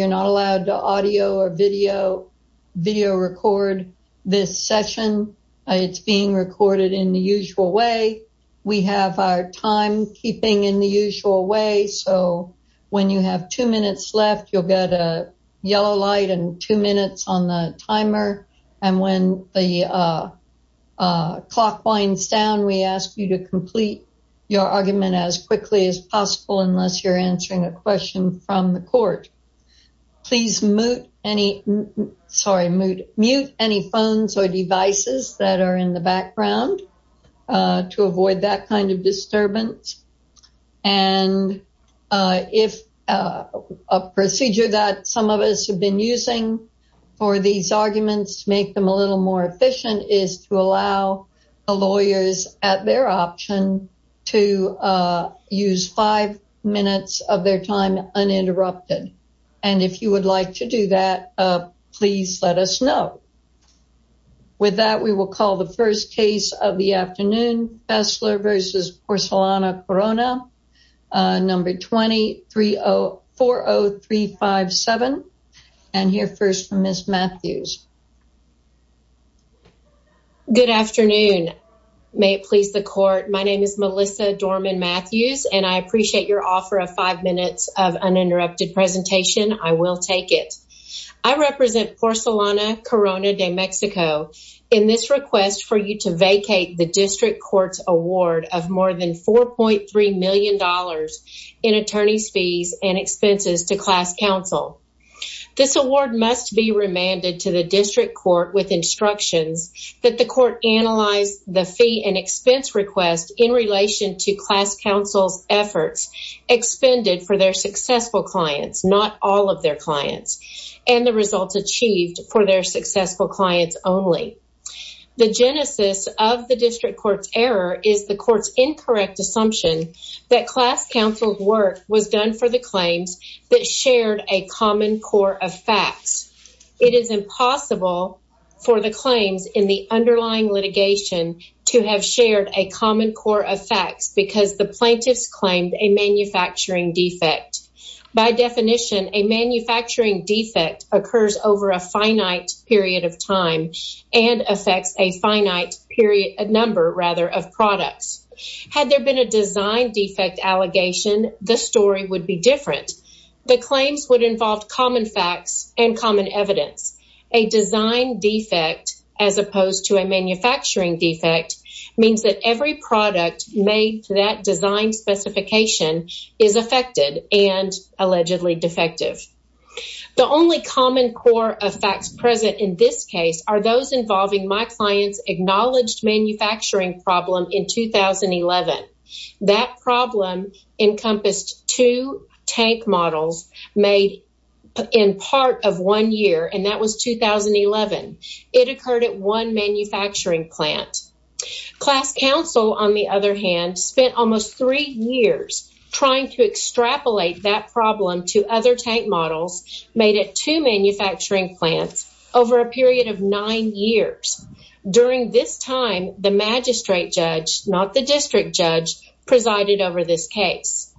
You're not allowed to audio or video record this session. It's being recorded in the usual way. We have our time keeping in the usual way. So when you have two minutes left, you'll get a yellow light and two minutes on the timer. And when the clock winds down, we ask you to complete your argument as quickly as possible unless you're answering a question from the court. Please mute any phones or devices that are in the background to avoid that kind of disturbance. And if a procedure that some of us have been using for these arguments to make them a little more efficient is to allow the lawyers at their option to use five minutes of their time uninterrupted. And if you would like to do that, please let us know. With that, we will call the first case of the afternoon, Fessler v. Porcelana Corona, number 20-40357. And hear first from Ms. Matthews. Good afternoon, may it please the court. My name is Melissa Dorman-Matthews and I appreciate your offer of five minutes of uninterrupted presentation, I will take it. I represent Porcelana Corona de Mexico in this request for you to vacate the district court's award of more than $4.3 million in attorney's fees and expenses to class counsel. This award must be remanded to the district court with instructions that the court analyze the fee and expense request in relation to class counsel's efforts expended for their successful clients, not all of their clients, and the results achieved for their successful clients only. The genesis of the district court's error is the court's incorrect assumption that class counsel's work was done for the claims that shared a common core of facts. It is impossible for the claims in the underlying litigation to have shared a common core of facts because the plaintiffs claimed a manufacturing defect. By definition, a manufacturing defect occurs over a finite period of time and affects a finite number of products. Had there been a design defect allegation, the story would be different. The claims would involve common facts and common evidence. A design defect, as opposed to a manufacturing defect, means that every product made to that design specification is affected and allegedly defective. The only common core of facts present in this case are those involving my client's acknowledged manufacturing problem in 2011. That problem encompassed two tank models made in part of one year, and that was 2011. It occurred at one manufacturing plant. Class counsel, on the other hand, spent almost three years trying to extrapolate that problem to other tank models made at two manufacturing plants over a period of nine years. During this time, the magistrate judge, not the district judge, presided over this case.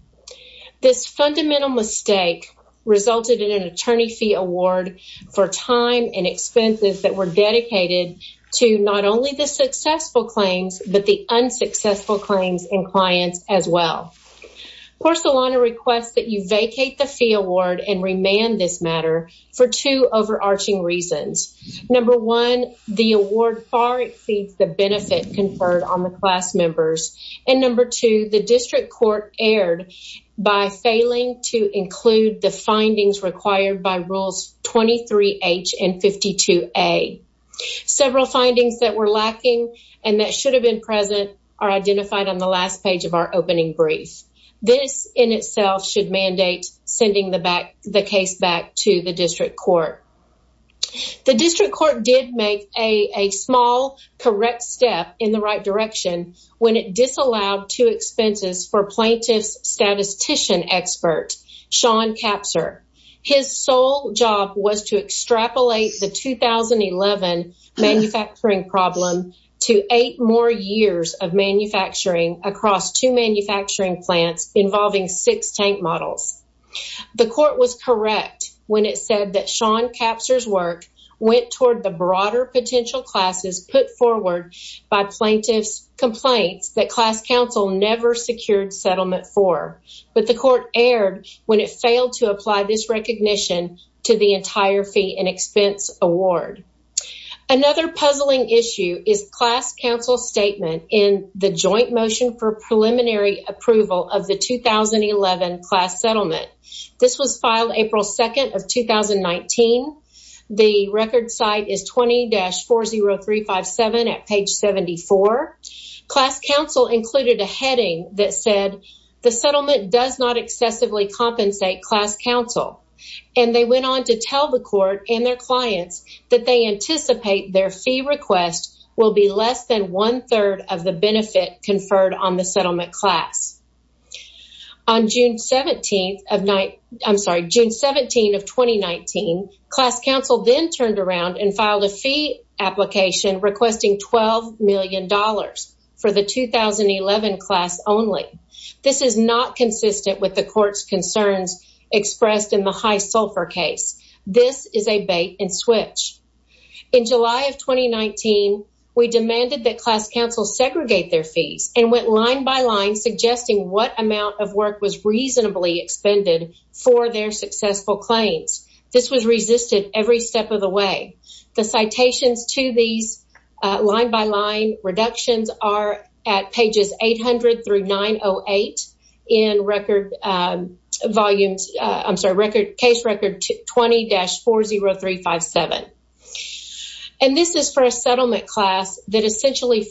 This fundamental mistake resulted in an attorney fee award for time and expenses that were dedicated to not only the successful claims, but the unsuccessful claims and clients as well. Porcelana requests that you vacate the fee award and remand this matter for two overarching reasons. Number one, the award far exceeds the benefit conferred on the class members. And number two, the district court erred by failing to include the findings required by rules 23H and 52A. Several findings that were lacking and that should have been present are identified on the last page of our opening brief. This in itself should mandate sending the case back to the district court. The district court did make a small correct step in the right direction when it disallowed two expenses for plaintiff's statistician expert, Sean Capser. His sole job was to extrapolate the 2011 manufacturing problem to eight more years of manufacturing across two manufacturing plants involving six tank models. The court was correct when it said that Sean Capser's work went toward the broader potential classes put forward by plaintiff's complaints that class council never secured settlement for. But the court erred when it failed to apply this recognition to the entire fee and expense award. Another puzzling issue is class council statement in the joint motion for preliminary approval of the 2011 class settlement. This was filed April 2nd of 2019. The record site is 20-40357 at page 74. Class council included a heading that said, the settlement does not excessively compensate class council. And they went on to tell the court and their clients that they anticipate their fee request will be less than one third of the benefit conferred on the settlement class. On June 17th of, I'm sorry, June 17th of 2019, class council then turned around and filed a fee application requesting $12 million for the 2011 class only. This is not consistent with the court's concerns expressed in the high sulfur case. This is a bait and switch. In July of 2019, we demanded that class council segregate their fees and went line by line suggesting what amount of work was reasonably expended for their successful claims. This was resisted every step of the way. The citations to these line by line reductions are at pages 800 through 908 in record volumes, I'm sorry, case record 20-40357. And this is for a settlement class that essentially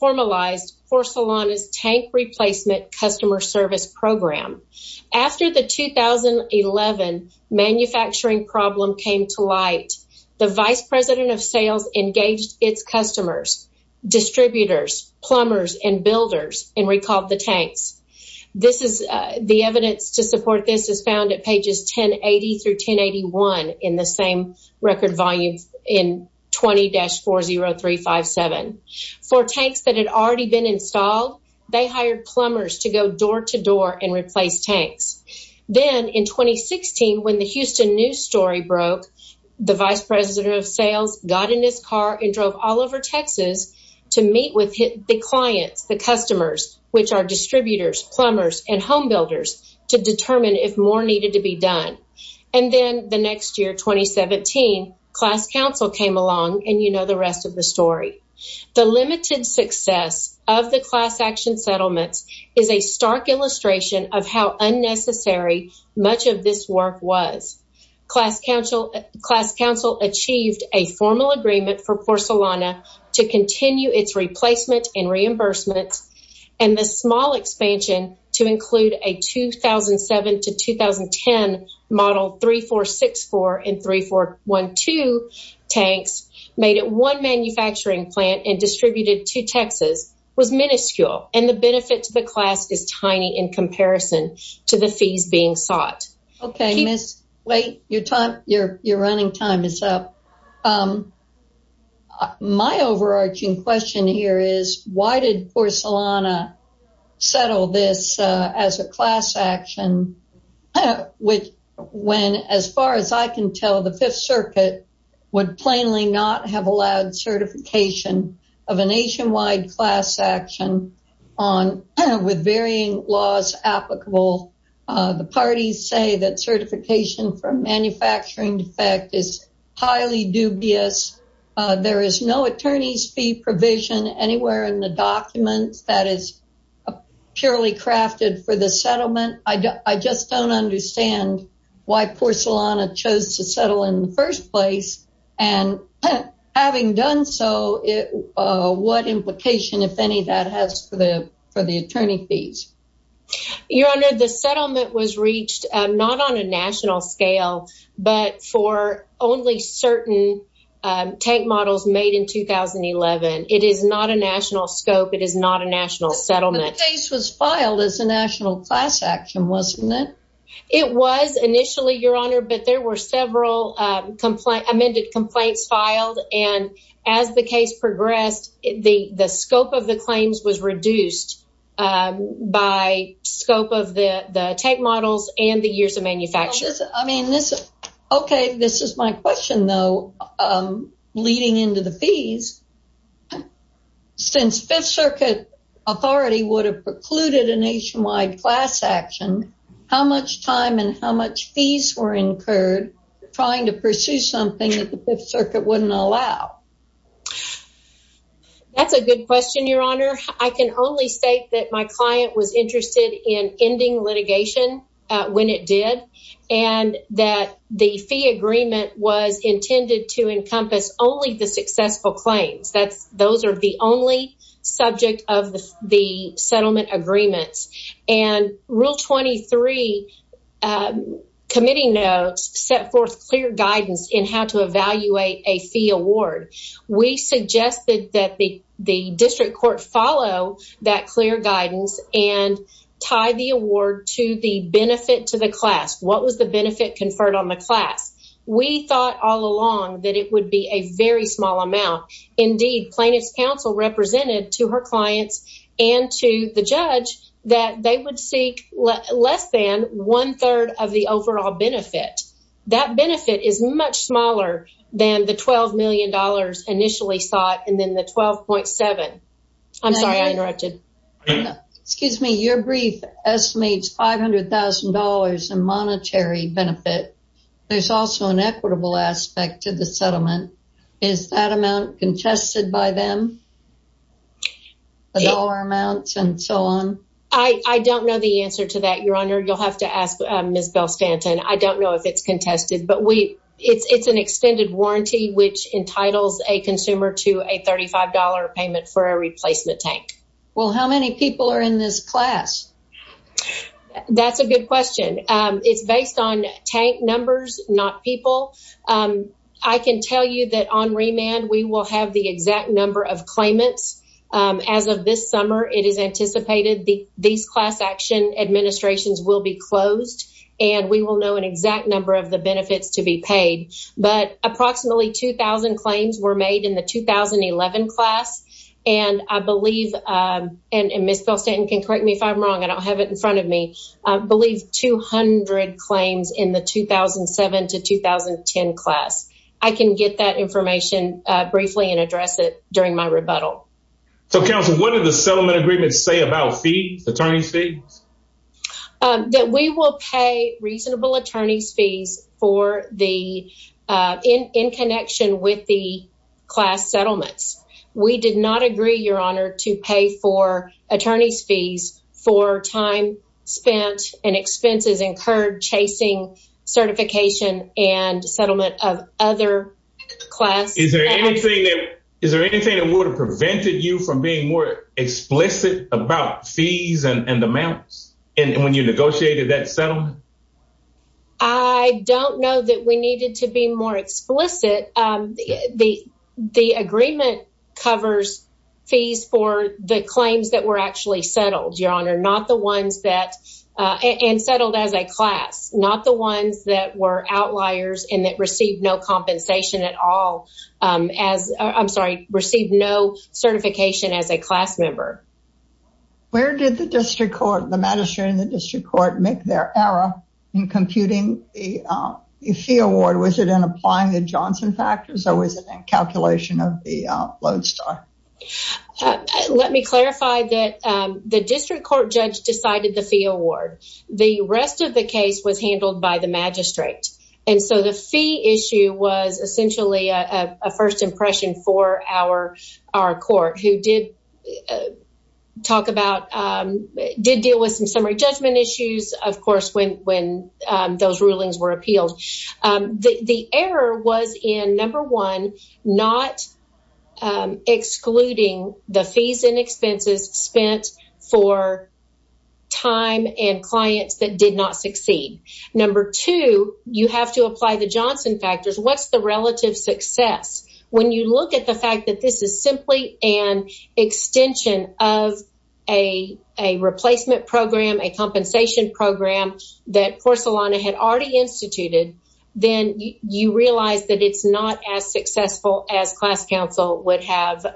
formalized Porcelana's tank replacement customer service program. After the 2011 manufacturing problem came to light, the vice president of sales engaged its customers, distributors, plumbers, and builders, and recalled the tanks. This is, the evidence to support this is found at pages 1080 through 1081 in the same record volume in 20-40357. For tanks that had already been installed, they hired plumbers to go door to door and replace tanks. Then in 2016, when the Houston news story broke, the vice president of sales got in his car and drove all over Texas to meet with the clients, the customers, which are distributors, plumbers, and home builders to determine if more needed to be done. And then the next year, 2017, class council came along and you know the rest of the story. The limited success of the class action settlements is a stark illustration of how unnecessary much of this work was. Class council achieved a formal agreement for Porcelana to continue its replacement and reimbursement and the small expansion to include a 2007 to 2010 model 3464 and 3412 tanks made at one manufacturing plant and distributed to Texas was minuscule. And the benefit to the class is tiny in comparison to the fees being sought. Okay, miss, wait, your time, your running time is up. My overarching question here is why did Porcelana settle this as a class action, which when as far as I can tell, the fifth circuit would plainly not have allowed certification of a nationwide class action with varying laws applicable. The parties say that certification for a manufacturing defect is highly dubious. There is no attorney's fee provision anywhere in the documents that is purely crafted for the settlement. I just don't understand why Porcelana chose to settle in the first place. And having done so, what implication, if any, that has for the attorney fees? Your honor, the settlement was reached not on a national scale, but for only certain tank models made in 2011. It is not a national scope. It is not a national settlement. The case was filed as a national class action, wasn't it? It was initially, your honor, but there were several amended complaints filed. And as the case progressed, the scope of the claims was reduced by scope of the tank models and the years of manufacture. I mean, okay, this is my question though, leading into the fees. Since fifth circuit authority would have precluded a nationwide class action, how much time and how much fees were incurred trying to pursue something that the fifth circuit wouldn't allow? That's a good question, your honor. I can only state that my client was interested in ending litigation when it did, and that the fee agreement was intended to encompass only the successful claims. Those are the only subject of the settlement agreements. And rule 23 committee notes set forth clear guidance in how to evaluate a fee award. We suggested that the district court follow that clear guidance and tie the award to the benefit to the class. What was the benefit conferred on the class? We thought all along that it would be a very small amount. Indeed, plaintiff's counsel represented to her clients and to the judge that they would seek less than one third of the overall benefit. That benefit is much smaller than the $12 million initially sought, and then the 12.7. I'm sorry, I interrupted. Excuse me, your brief estimates $500,000 in monetary benefit. There's also an equitable aspect to the settlement. Is that amount contested by them? The dollar amounts and so on? I don't know the answer to that, your honor. You'll have to ask Ms. Bell-Stanton. I don't know if it's contested, but it's an extended warranty, which entitles a consumer to a $35 payment for a replacement tank. Well, how many people are in this class? That's a good question. It's based on tank numbers, not people. I can tell you that on remand, we will have the exact number of clients claimants as of this summer. It is anticipated these class action administrations will be closed, and we will know an exact number of the benefits to be paid. But approximately 2,000 claims were made in the 2011 class, and I believe, and Ms. Bell-Stanton can correct me if I'm wrong. I don't have it in front of me. I believe 200 claims in the 2007 to 2010 class. I can get that information briefly and address it during my rebuttal. So, Counsel, what did the settlement agreements say about fees, attorney's fees? That we will pay reasonable attorney's fees for the, in connection with the class settlements. We did not agree, Your Honor, to pay for attorney's fees for time spent and expenses incurred chasing certification and settlement of other class- Is there anything that would have prevented you from being more explicit about fees and amounts when you negotiated that settlement? I don't know that we needed to be more explicit. The agreement covers fees for the claims that were actually settled, Your Honor, not the ones that, and settled as a class, not the ones that were outliers and that received no compensation at all as, I'm sorry, received no certification as a class member. Where did the district court, the magistrate and the district court make their error in computing the fee award? Was it in applying the Johnson factors or was it in calculation of the Lodestar? Let me clarify that the district court judge decided the fee award. The rest of the case was handled by the magistrate. And so the fee issue was essentially a first impression for our court who did talk about, did deal with some summary judgment issues, of course, when those rulings were appealed. The error was in, number one, not excluding the fees and expenses spent for time and clients that did not succeed. Number two, you have to apply the Johnson factors. What's the relative success? When you look at the fact that this is simply an extension of a replacement program, a compensation program that Porcelana had already instituted, then you realize that it's not as successful as class counsel would have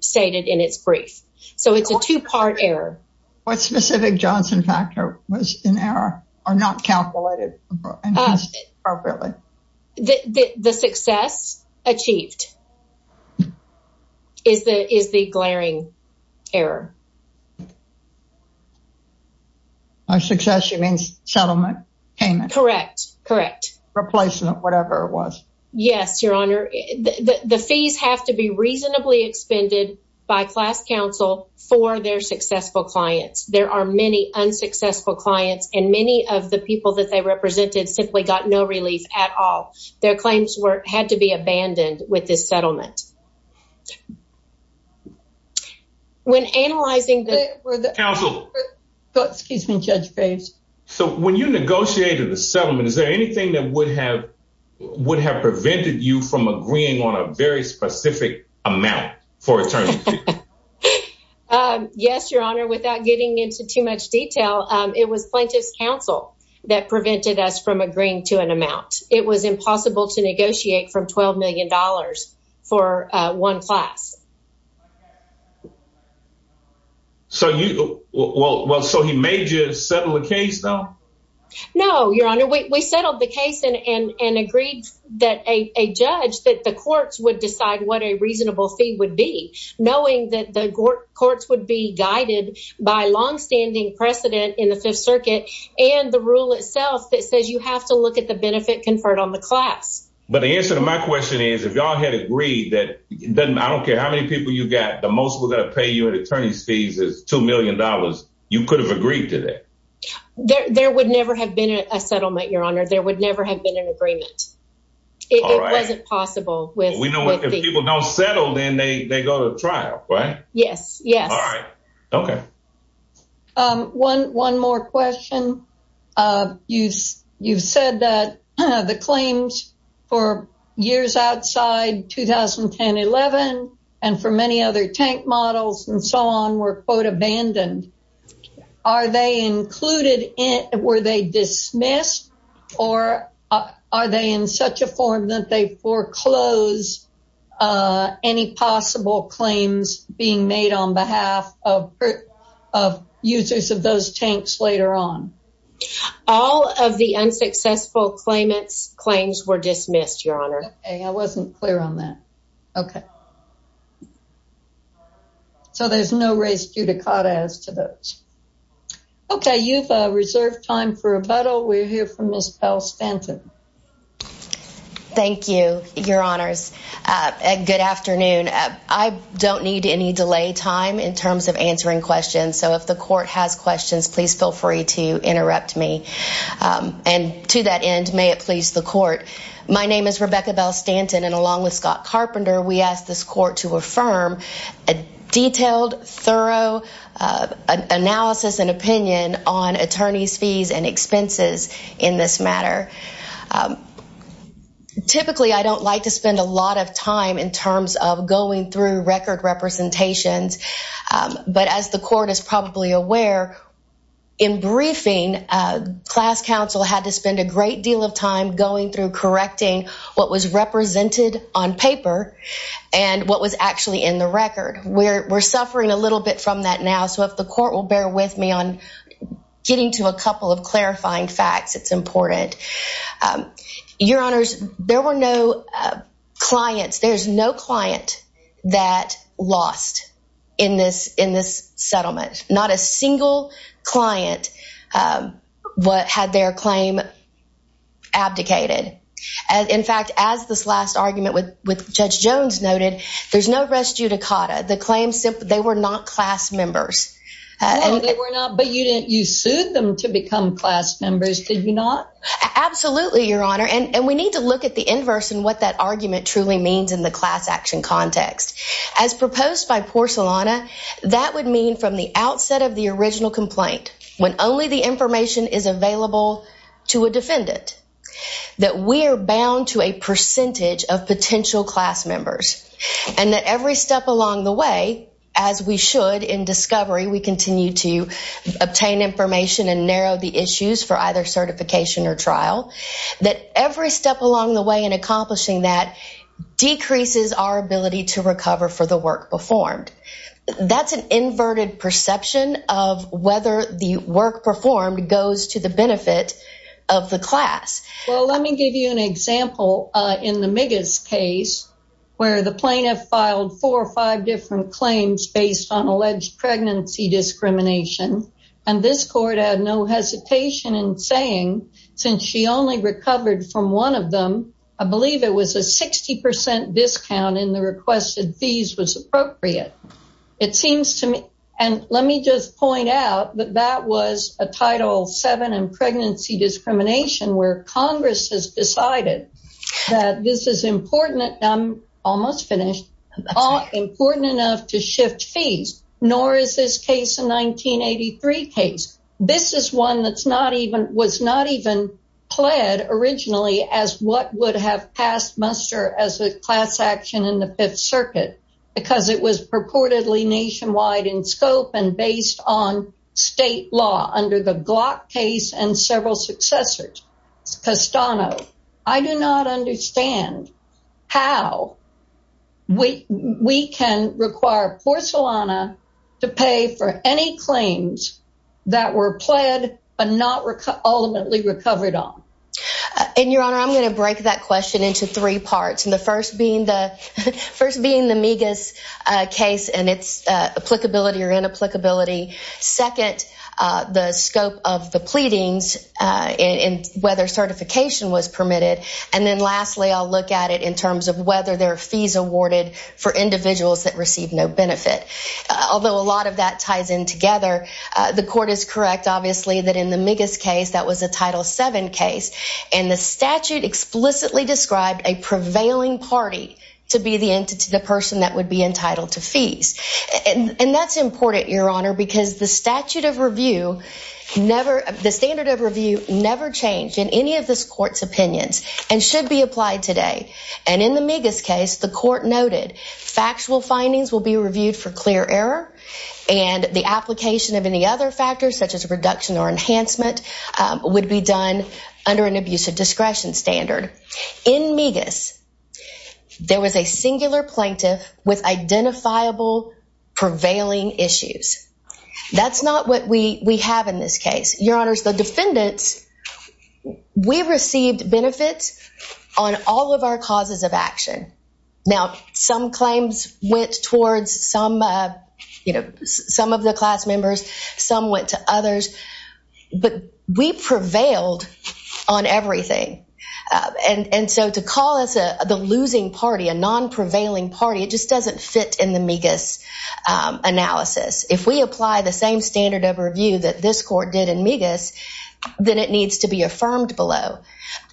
stated in its brief. So it's a two-part error. What specific Johnson factor was in error or not calculated appropriately? The success achieved is the glaring error. By success, you mean settlement payment? Correct, correct. Replacement, whatever it was. Yes, Your Honor. The fees have to be reasonably expended by class counsel for their successful clients. There are many unsuccessful clients and many of the people that they represented simply got no relief at all. Their claims had to be abandoned with this settlement. When analyzing the- Counsel. Excuse me, Judge Bates. So when you negotiated the settlement, is there anything that would have prevented you from agreeing on a very specific amount for a term? Yes, Your Honor, without getting into too much detail, it was plaintiff's counsel that prevented us from agreeing to an amount. It was impossible to negotiate from $12 million for one class. So you, well, so he made you settle a case, though? No, Your Honor, we settled the case and agreed that a judge, that the courts would decide what a reasonable fee would be, knowing that the courts would be guided by longstanding precedent in the Fifth Circuit and the rule itself that says you have to look at the benefit conferred on the class. But the answer to my question is, if y'all had agreed that, I don't care how many people you got, the most we're gonna pay you in attorney's fees is $2 million, you could have agreed to that? There would never have been a settlement, Your Honor. There would never have been an agreement. It wasn't possible with- We know if people don't settle, then they go to trial, right? Yes, yes. All right. Okay. One more question. You've said that the claims for years outside 2010-11 and for many other tank models and so on were, quote, abandoned. Are they included, were they dismissed, or are they in such a form that they foreclose any possible claims being made on behalf of users of those tanks later on? All of the unsuccessful claims were dismissed, Your Honor. Okay, I wasn't clear on that. Okay. So there's no race judicata as to those. Okay, you've reserved time for rebuttal. We'll hear from Ms. Pell Stanton. Thank you, Your Honors. Good afternoon. I don't need any delay time in terms of answering questions. So if the court has questions, please feel free to interrupt me. And to that end, may it please the court. My name is Rebecca Bell Stanton, and along with Scott Carpenter, we asked this court to affirm a detailed, thorough analysis and opinion on attorneys' fees and expenses in this matter. Typically, I don't like to spend a lot of time in terms of going through record representations. But as the court is probably aware, in briefing, class counsel had to spend a great deal of time going through correcting what was represented on paper and what was actually in the record. We're suffering a little bit from that now. So if the court will bear with me on getting to a couple of clarifying facts, it's important. Your Honors, there were no clients, there's no client that lost in this settlement. Not a single client had their claim abdicated. In fact, as this last argument with Judge Jones noted, there's no res judicata. The claims, they were not class members. No, they were not, but you sued them to become class members, did you not? Absolutely, Your Honor. And we need to look at the inverse and what that argument truly means in the class action context. As proposed by Porcelana, that would mean from the outset of the original complaint, when only the information is available to a defendant, that we are bound to a percentage of potential class members and that every step along the way, as we should in discovery, we continue to obtain information and narrow the issues for either certification or trial, that every step along the way in accomplishing that decreases our ability to recover for the work performed. That's an inverted perception of whether the work performed goes to the benefit of the class. Well, let me give you an example in the Migas case where the plaintiff filed four or five different claims based on alleged pregnancy discrimination. And this court had no hesitation in saying, since she only recovered from one of them, I believe it was a 60% discount in the requested fees was appropriate. It seems to me, and let me just point out that that was a Title VII in pregnancy discrimination where Congress has decided that this is important, I'm almost finished, important enough to shift fees. Nor is this case a 1983 case. This is one that was not even pled originally as what would have passed muster as a class action in the Fifth Circuit because it was purportedly nationwide in scope and based on state law under the Glock case and several successors. Castano, I do not understand how we can require Porcelana to pay for any claims that were pled but not ultimately recovered on. And Your Honor, I'm gonna break that question into three parts. And the first being the Migas case and its applicability or inapplicability. Second, the scope of the pleadings and whether certification was permitted. And then lastly, I'll look at it in terms of whether there are fees awarded for individuals that receive no benefit. Although a lot of that ties in together, the court is correct, obviously, that in the Migas case, that was a Title VII case. And the statute explicitly described a prevailing party to be the entity, the person that would be entitled to fees. And that's important, Your Honor, because the statute of review never, the standard of review never changed in any of this court's opinions and should be applied today. And in the Migas case, the court noted, factual findings will be reviewed for clear error and the application of any other factors such as a reduction or enhancement would be done under an abusive discretion standard. In Migas, there was a singular plaintiff with identifiable prevailing issues. That's not what we have in this case. Your Honors, the defendants, we received benefits on all of our causes of action. Now, some claims went towards some of the class members, some went to others, but we prevailed on everything. And so to call us the losing party, a non-prevailing party, it just doesn't fit in the Migas analysis. If we apply the same standard of review that this court did in Migas, then it needs to be affirmed below.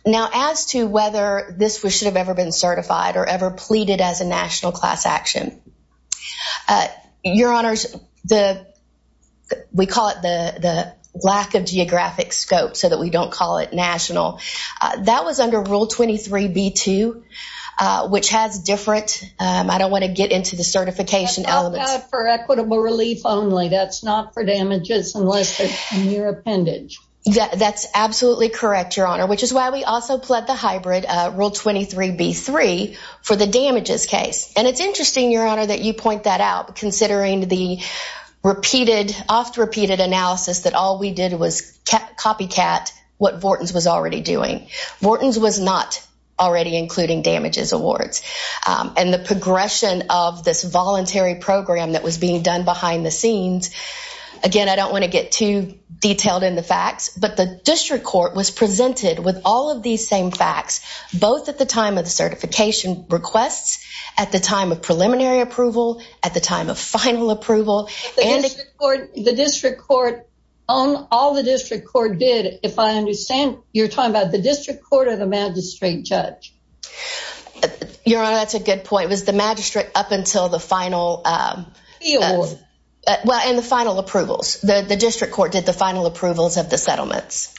Now, as to whether this should have ever been certified or ever pleaded as a national class action, Your Honors, we call it the lack of geographic scope so that we don't call it national. That was under Rule 23b-2, which has different, I don't wanna get into the certification elements. For equitable relief only, that's not for damages unless it's in your appendage. That's absolutely correct, Your Honor, which is why we also pled the hybrid, Rule 23b-3, for the damages case. And it's interesting, Your Honor, that you point that out, considering the oft-repeated analysis that all we did was copycat what Vortens was already doing. Vortens was not already including damages awards. And the progression of this voluntary program that was being done behind the scenes, again, I don't wanna get too detailed in the facts, but the district court was presented with all of these same facts, both at the time of the certification requests, at the time of preliminary approval, at the time of final approval, and- The district court, all the district court did, if I understand, you're talking about the district court or the magistrate judge? Your Honor, that's a good point. It was the magistrate up until the final- The award. Well, and the final approvals. The district court did the final approvals of the settlements.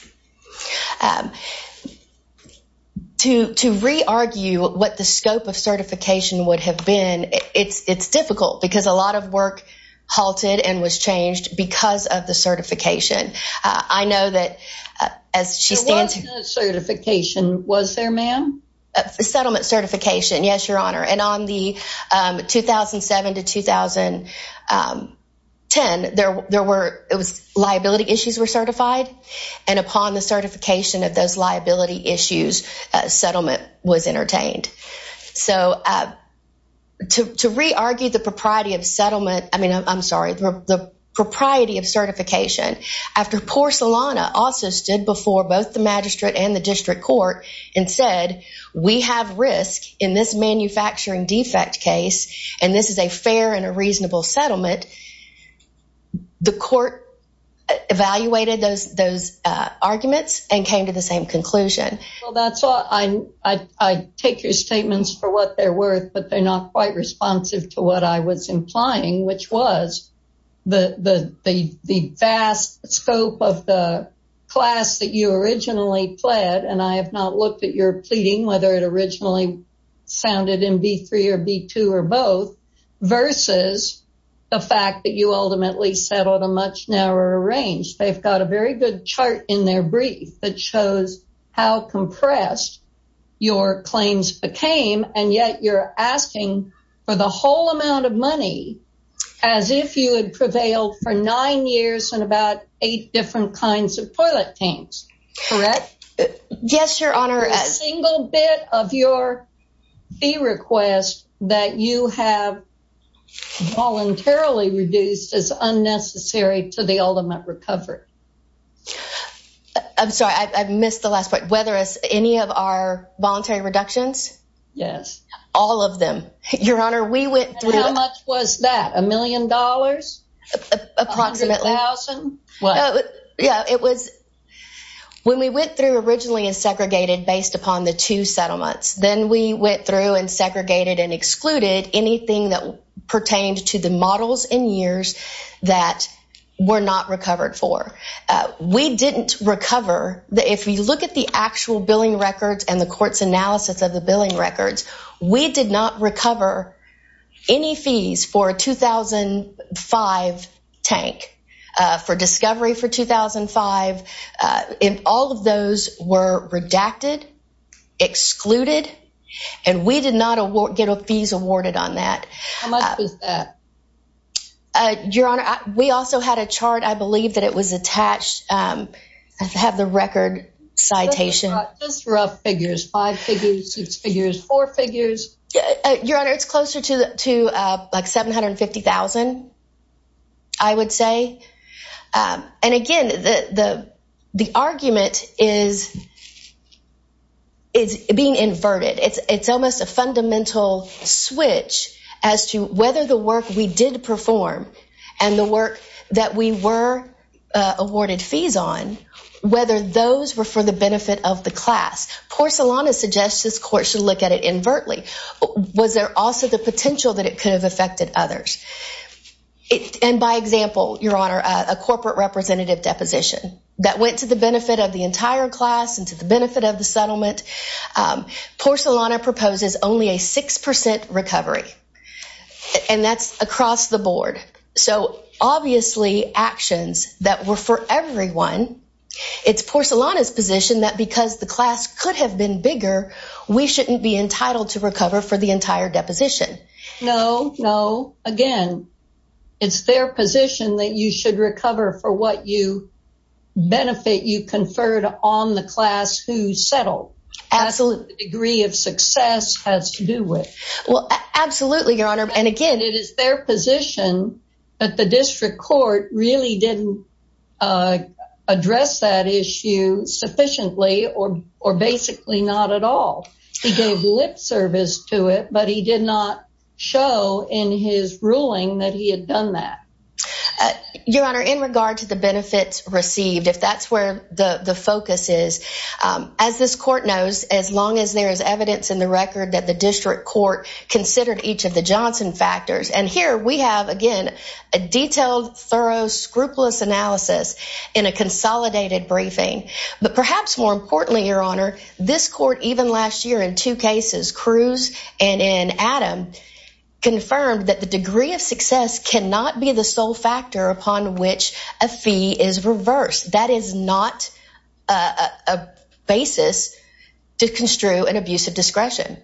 To re-argue what the scope of certification would have been, it's difficult because a lot of work halted and was changed because of the certification. There was no certification, was there, ma'am? Settlement certification, yes, Your Honor. And on the 2007 to 2010, liability issues were certified, and upon the certification of those liability issues, settlement was entertained. So to re-argue the propriety of settlement, I mean, I'm sorry, the propriety of certification after Porcelana also stood before both the magistrate and the district court and said, we have risk in this manufacturing defect case, and this is a fair and a reasonable settlement, the court evaluated those arguments and came to the same conclusion. Well, that's all. I take your statements for what they're worth, but they're not quite responsive to what I was implying, which was the vast scope of the class that you originally pled, and I have not looked at your pleading, whether it originally sounded in B3 or B2 or both, versus the fact that you ultimately settled a much narrower range. They've got a very good chart in their brief that shows how compressed your claims became, and yet you're asking for the whole amount of money as if you had prevailed for nine years in about eight different kinds of toilet tanks, correct? Yes, your honor. A single bit of your fee request that you have voluntarily reduced is unnecessary to the ultimate recovery. I'm sorry, I've missed the last part. Whether it's any of our voluntary reductions? Yes. All of them. Your honor, we went through- And how much was that? A million dollars? Approximately. A hundred thousand, what? Yeah, it was, when we went through originally based upon the two settlements. Then we went through and segregated and excluded anything that pertained to the models and years that were not recovered for. We didn't recover, if we look at the actual billing records and the court's analysis of the billing records, we did not recover any fees for a 2005 tank, for discovery for 2005. If all of those were redacted, excluded, and we did not get a fees awarded on that. How much was that? Your honor, we also had a chart, I believe that it was attached. I have the record citation. Just rough figures, five figures, six figures, four figures. Your honor, it's closer to like 750,000, I would say. And again, the argument is being inverted. It's almost a fundamental switch as to whether the work we did perform and the work that we were awarded fees on, whether those were for the benefit of the class. Porcelana suggests this court should look at it invertly. Was there also the potential that it could have affected others? And by example, your honor, a corporate representative deposition that went to the benefit of the entire class and to the benefit of the settlement. Porcelana proposes only a 6% recovery. And that's across the board. So obviously actions that were for everyone, it's Porcelana's position that because the class could have been bigger, we shouldn't be entitled to recover for the entire deposition. No, no, again, it's their position that you should recover for what you benefit, you conferred on the class who settled. Absolutely. The degree of success has to do with. Well, absolutely, your honor. And again, it is their position that the district court really didn't address that issue sufficiently or basically not at all. He gave lip service to it, but he did not show in his ruling that he had done that. Your honor, in regard to the benefits received, if that's where the focus is, as this court knows, as long as there is evidence in the record that the district court considered each of the Johnson factors. And here we have, again, a detailed, thorough, scrupulous analysis in a consolidated briefing. But perhaps more importantly, your honor, this court even last year in two cases, Cruz and in Adam, confirmed that the degree of success cannot be the sole factor upon which a fee is reversed. That is not a basis to construe an abuse of discretion.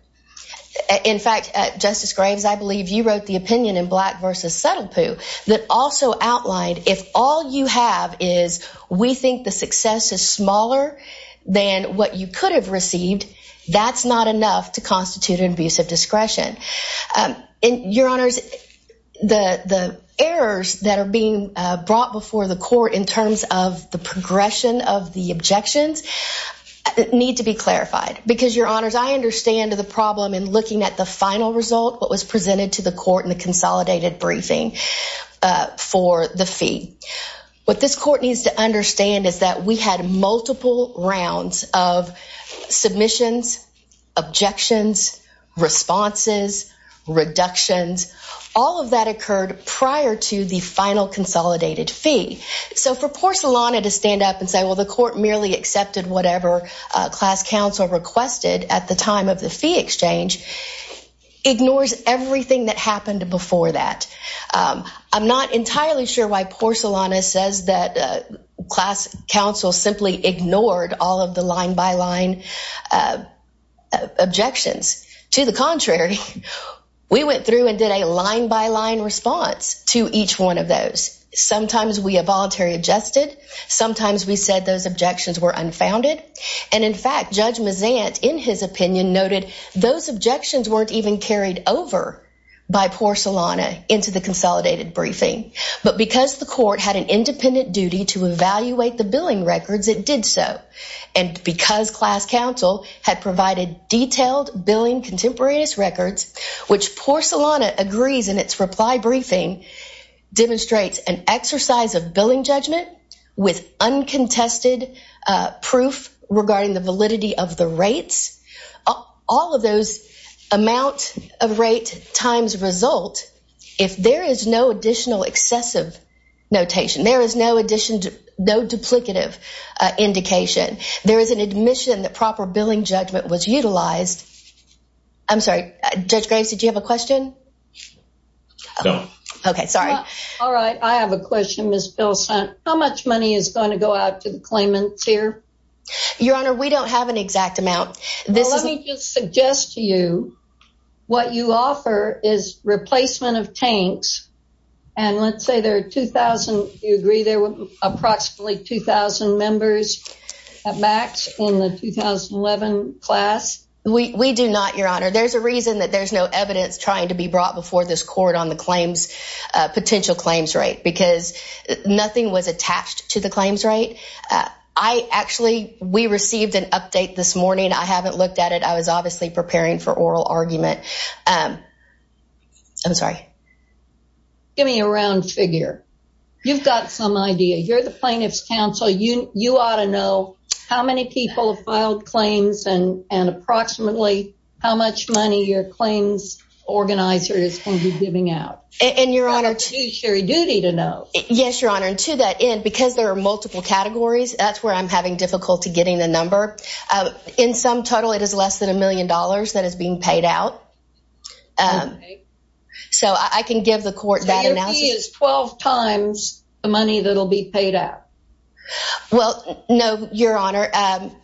In fact, Justice Graves, I believe you wrote the opinion in Black versus Subtle Poo that also outlined, if all you have is, we think the success is smaller than what you could have received, that's not enough to constitute an abuse of discretion. And your honors, the errors that are being brought before the court in terms of the progression of the objections need to be clarified. Because your honors, I understand the problem in looking at the final result, what was presented to the court in the consolidated briefing for the fee. What this court needs to understand is that we had multiple rounds of submissions, objections, responses, reductions, all of that occurred prior to the final consolidated fee. So for Porcelana to stand up and say, well, the court merely accepted whatever class counsel requested at the time of the fee exchange, ignores everything that happened before that. I'm not entirely sure why Porcelana says that class counsel simply ignored all of the line by line objections. To the contrary, we went through and did a line by line response to each one of those. Sometimes we involuntarily adjusted, sometimes we said those objections were unfounded. And in fact, Judge Mazant, in his opinion noted, those objections weren't even carried over by Porcelana into the consolidated briefing. But because the court had an independent duty to evaluate the billing records, it did so. And because class counsel had provided detailed billing contemporaneous records, which Porcelana agrees in its reply briefing, demonstrates an exercise of billing judgment with uncontested proof regarding the validity of the rates. All of those amount of rate times result, if there is no additional excessive notation, there is no duplicative indication. There is an admission that proper billing judgment was utilized. I'm sorry, Judge Graves, did you have a question? No. Okay, sorry. All right, I have a question, Ms. Pilsen. How much money is gonna go out to the claimants here? Your Honor, we don't have an exact amount. This is- Well, let me just suggest to you what you offer is replacement of tanks. And let's say there are 2,000, you agree there were approximately 2,000 members at MAX in the 2011 class? We do not, Your Honor. There's a reason that there's no evidence trying to be brought before this court on the claims, potential claims rate, because nothing was attached to the claims rate. I actually, we received an update this morning. I haven't looked at it. I was obviously preparing for oral argument. I'm sorry. Give me a round figure. You've got some idea. You're the plaintiff's counsel. You ought to know how many people have filed claims and approximately how much money your claims organizer is gonna be giving out. And Your Honor- That's your duty to know. Yes, Your Honor, and to that end, because there are multiple categories, that's where I'm having difficulty getting the number. In some total, it is less than a million dollars that is being paid out. Okay. So I can give the court that analysis- So your fee is 12 times the money that'll be paid out? Well, no, Your Honor.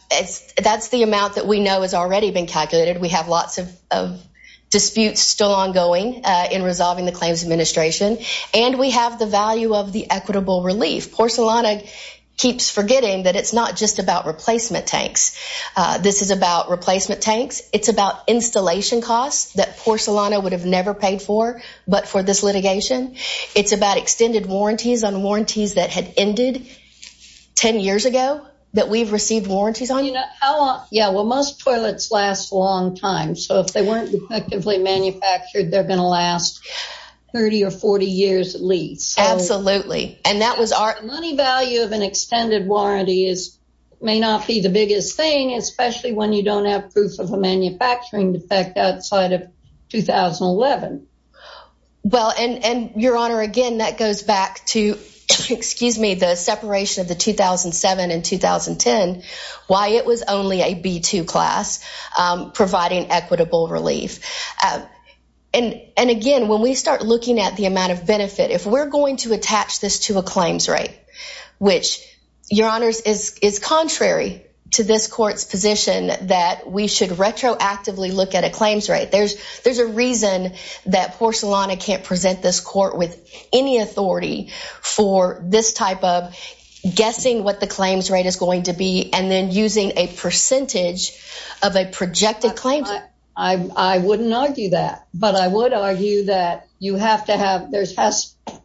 That's the amount that we know has already been calculated. We have lots of disputes still ongoing in resolving the claims administration. And we have the value of the equitable relief. Porcelana keeps forgetting that it's not just about replacement tanks. This is about replacement tanks. It's about installation costs that Porcelana would have never paid for, but for this litigation. It's about extended warranties on warranties that had ended 10 years ago that we've received warranties on. Yeah, well, most toilets last a long time. So if they weren't effectively manufactured, they're gonna last 30 or 40 years at least. Absolutely. And that was our- The money value of an extended warranty may not be the biggest thing, especially when you don't have proof of a manufacturing defect outside of 2011. Well, and Your Honor, again, that goes back to, excuse me, the separation of the 2007 and 2010, why it was only a B2 class providing equitable relief. And again, when we start looking at the amount of benefit, if we're going to attach this to a claims rate, which, Your Honors, is contrary to this court's position that we should retroactively look at a claims rate. There's a reason that Porcelana can't present this court with any authority for this type of guessing what the claims rate is going to be and then using a percentage of a projected claims rate. I wouldn't argue that, but I would argue that you have to have, there's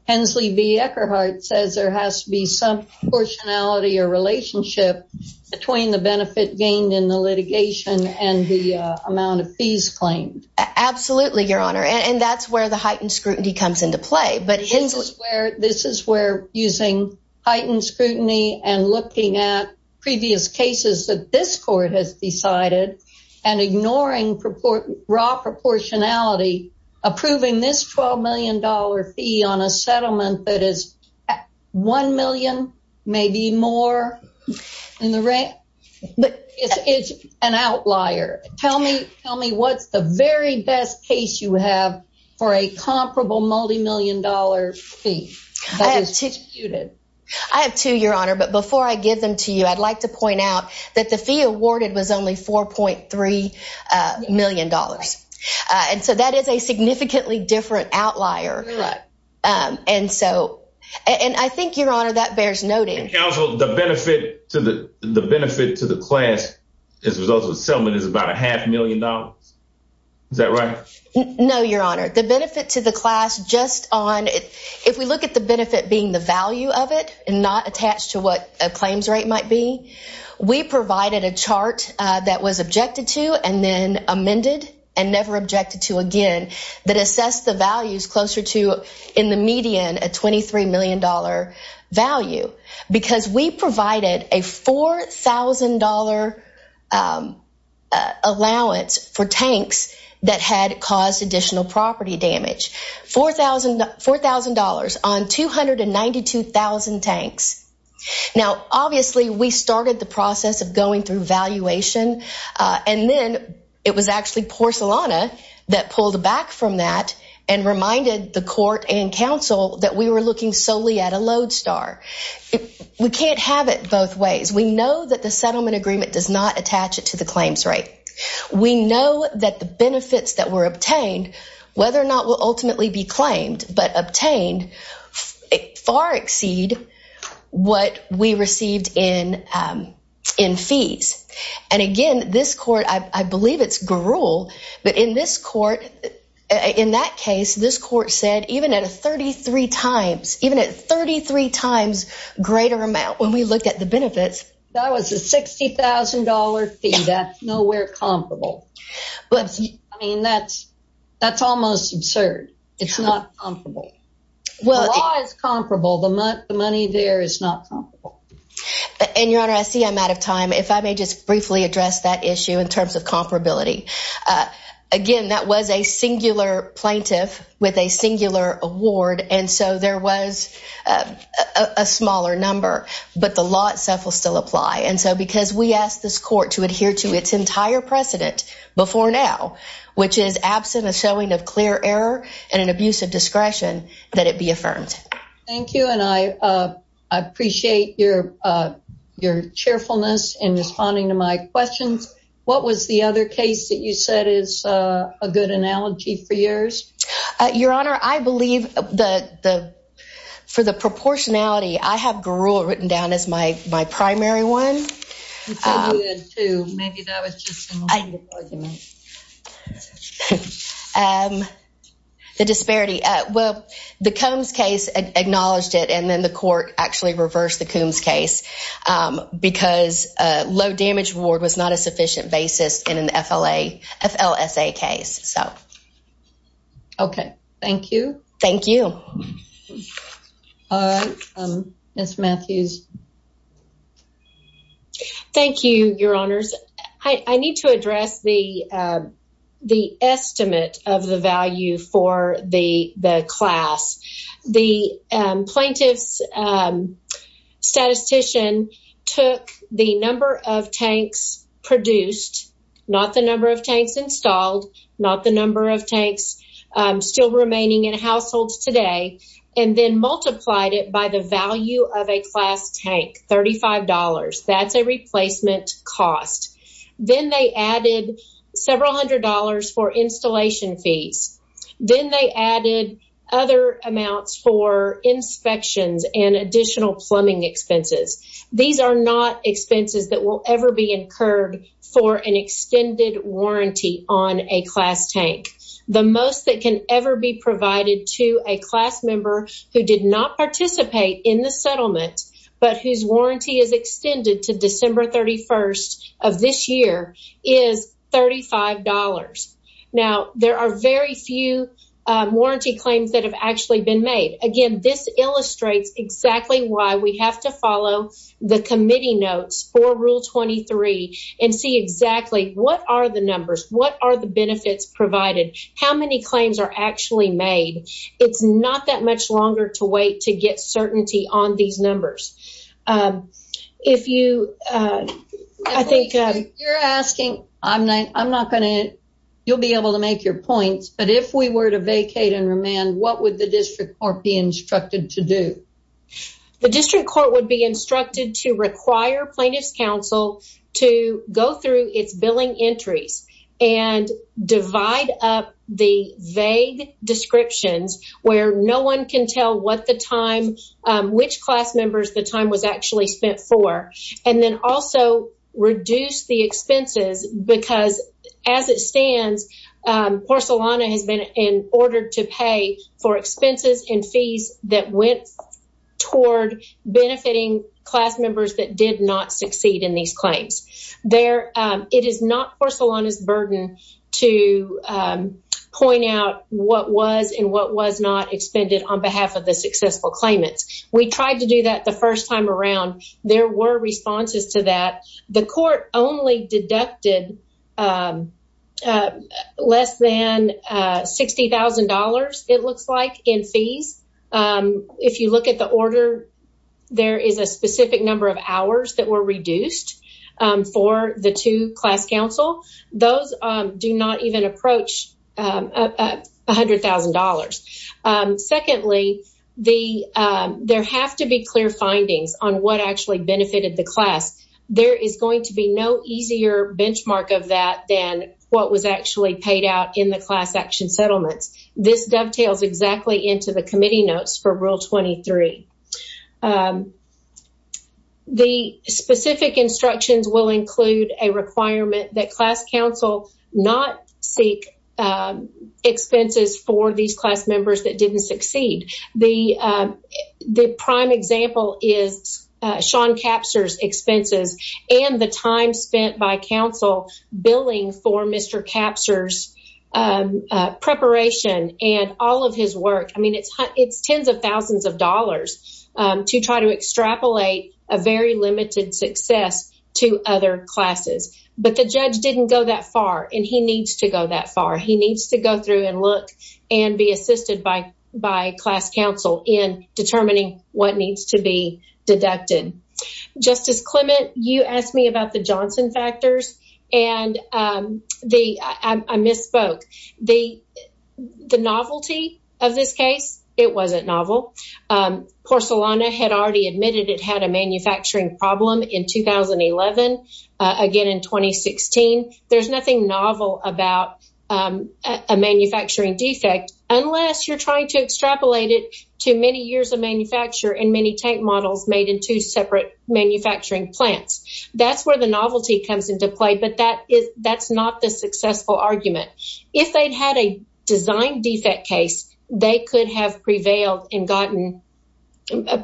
Hensley v. Eckerhart says there has to be some proportionality or relationship between the benefit gained in the litigation and the amount of fees claimed. Absolutely, Your Honor. And that's where the heightened scrutiny comes into play. But Hensley- This is where using heightened scrutiny and looking at previous cases that this court has decided and ignoring raw proportionality, approving this $12 million fee on a settlement that is one million, maybe more in the rent, it's an outlier. Tell me what's the very best case you have for a comparable multimillion dollar fee that is disputed. I have two, Your Honor, but before I give them to you, I'd like to point out that the fee awarded was only $4.3 million. And so that is a significantly different outlier. You're right. And so, and I think, Your Honor, that bears noting. Counsel, the benefit to the class as a result of the settlement is about a half million dollars. Is that right? No, Your Honor. The benefit to the class just on, if we look at the benefit being the value of it and not attached to what a claims rate might be, we provided a chart that was objected to and then amended and never objected to again that assess the values closer to in the median a $23 million value. Because we provided a $4,000 allowance for tanks that had caused additional property damage. $4,000 on 292,000 tanks. Now, obviously we started the process of going through valuation. And then it was actually porcelana that pulled back from that and reminded the court and counsel that we were looking solely at a load star. We can't have it both ways. We know that the settlement agreement does not attach it to the claims rate. We know that the benefits that were obtained, whether or not will ultimately be claimed, but obtained far exceed what we received in fees. And again, this court, I believe it's gruel, but in this court, in that case, this court said even at a 33 times, even at 33 times greater amount when we look at the benefits. That was a $60,000 fee that's nowhere comparable. But I mean, that's almost absurd. It's not comparable. Well, law is comparable. The money there is not comparable. And Your Honor, I see I'm out of time. If I may just briefly address that issue in terms of comparability. Again, that was a singular plaintiff with a singular award. And so there was a smaller number, but the law itself will still apply. And so, because we asked this court to adhere to its entire precedent before now, which is absent a showing of clear error and an abuse of discretion, that it be affirmed. Thank you. And I appreciate your cheerfulness in responding to my questions. What was the other case that you said is a good analogy for yours? Your Honor, I believe for the proportionality, I have gruel written down as my primary one. The disparity. Well, the Coombs case acknowledged it, and then the court actually reversed the Coombs case because low damage reward was not a sufficient basis in an FLSA case, so. Okay, thank you. Thank you. Ms. Matthews. Thank you, Your Honors. I need to address the estimate of the value for the class. The plaintiff's statistician took the number of tanks produced, not the number of tanks installed, not the number of tanks still remaining in households today, and then multiplied it by the value of a class tank, $35. That's a replacement cost. Then they added several hundred dollars for installation fees. Then they added other amounts for inspections and additional plumbing expenses. These are not expenses that will ever be incurred for an extended warranty on a class tank. The most that can ever be provided to a class member who did not participate in the settlement, but whose warranty is extended to December 31st of this year, is $35. Now, there are very few warranty claims that have actually been made. Again, this illustrates exactly why we have to follow the committee notes for Rule 23 and see exactly what are the numbers, what are the benefits provided, how many claims are actually made. It's not that much longer to wait to get certainty on these numbers. If you, I think- You're asking, I'm not gonna, you'll be able to make your points, but if we were to vacate and remand, what would the district court be instructed to do? The district court would be instructed to require plaintiff's counsel to go through its billing entries and divide up the vague descriptions where no one can tell what the time, which class members the time was actually spent for, and then also reduce the expenses, because as it stands, Porcelana has been in order to pay for expenses and fees that went toward benefiting class members that did not succeed in these claims. It is not Porcelana's burden to point out what was and what was not expended on behalf of the successful claimants. We tried to do that the first time around. There were responses to that. The court only deducted less than $60,000, it looks like, in fees. If you look at the order, there is a specific number of hours that were reduced for the two class counsel. Those do not even approach $100,000. Secondly, there have to be clear findings on what actually benefited the class. There is going to be no easier benchmark of that than what was actually paid out in the class action settlements. This dovetails exactly into the committee notes for Rule 23. The specific instructions will include a requirement that class counsel not seek expenses for these class members that didn't succeed. The prime example is Sean Capser's expenses and the time spent by counsel billing for Mr. Capser's preparation and all of his work. I mean, it's tens of thousands of dollars to try to extrapolate a very limited success to other classes. But the judge didn't go that far and he needs to go that far. He needs to go through and look and be assisted by class counsel in determining what needs to be deducted. Justice Clement, you asked me about the Johnson factors and I misspoke. The novelty of this case, it wasn't novel. Porcelana had already admitted it had a manufacturing problem in 2011, again in 2016. There's nothing novel about a manufacturing defect unless you're trying to extrapolate it to many years of manufacture and many tank models made in two separate manufacturing plants. That's where the novelty comes into play, but that's not the successful argument. If they'd had a design defect case, they could have prevailed and gotten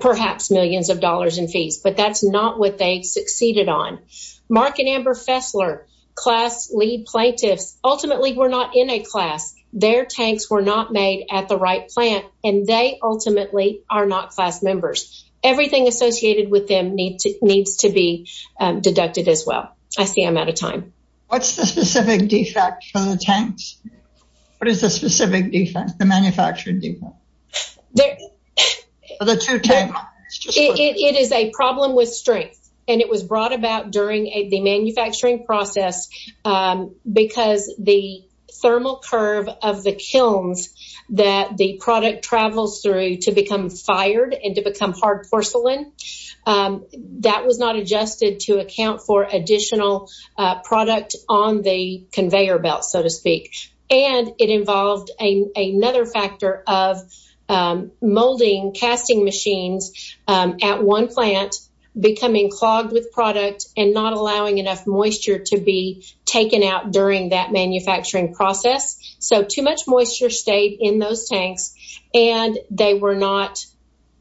perhaps millions of dollars in fees, but that's not what they succeeded on. Mark and Amber Fessler, class lead plaintiffs, ultimately were not in a class. Their tanks were not made at the right plant and they ultimately are not class members. Everything associated with them needs to be deducted as well. I see I'm out of time. What's the specific defect for the tanks? What is the specific defect, the manufacturing defect? For the two tanks? It is a problem with strength and it was brought about during the manufacturing process because the thermal curve of the kilns that the product travels through to become fired and to become hard porcelain, that was not adjusted to account for additional product on the conveyor belt, so to speak. And it involved another factor of molding casting machines at one plant becoming clogged with product and not allowing enough moisture to be taken out during that manufacturing process. So too much moisture stayed in those tanks and they were not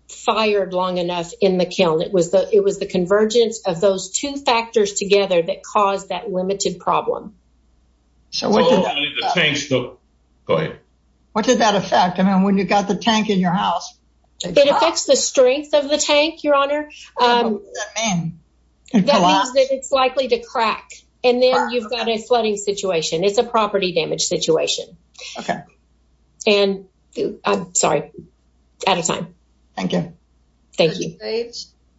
fired long enough in the kiln. It was the convergence of those two factors together that caused that limited problem. So what did that affect? What did that affect? I mean, when you've got the tank in your house. It affects the strength of the tank, Your Honor. That means that it's likely to crack and then you've got a flooding situation. It's a property damage situation. And I'm sorry, out of time. Thank you. Thank you.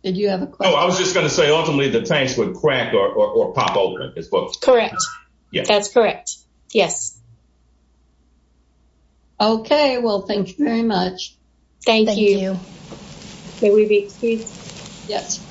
Did you have a question? Oh, I was just gonna say, ultimately the tanks would crack or pop open. Correct, that's correct. Yes. Okay, well, thank you very much. Thank you. May we be excused? Yes.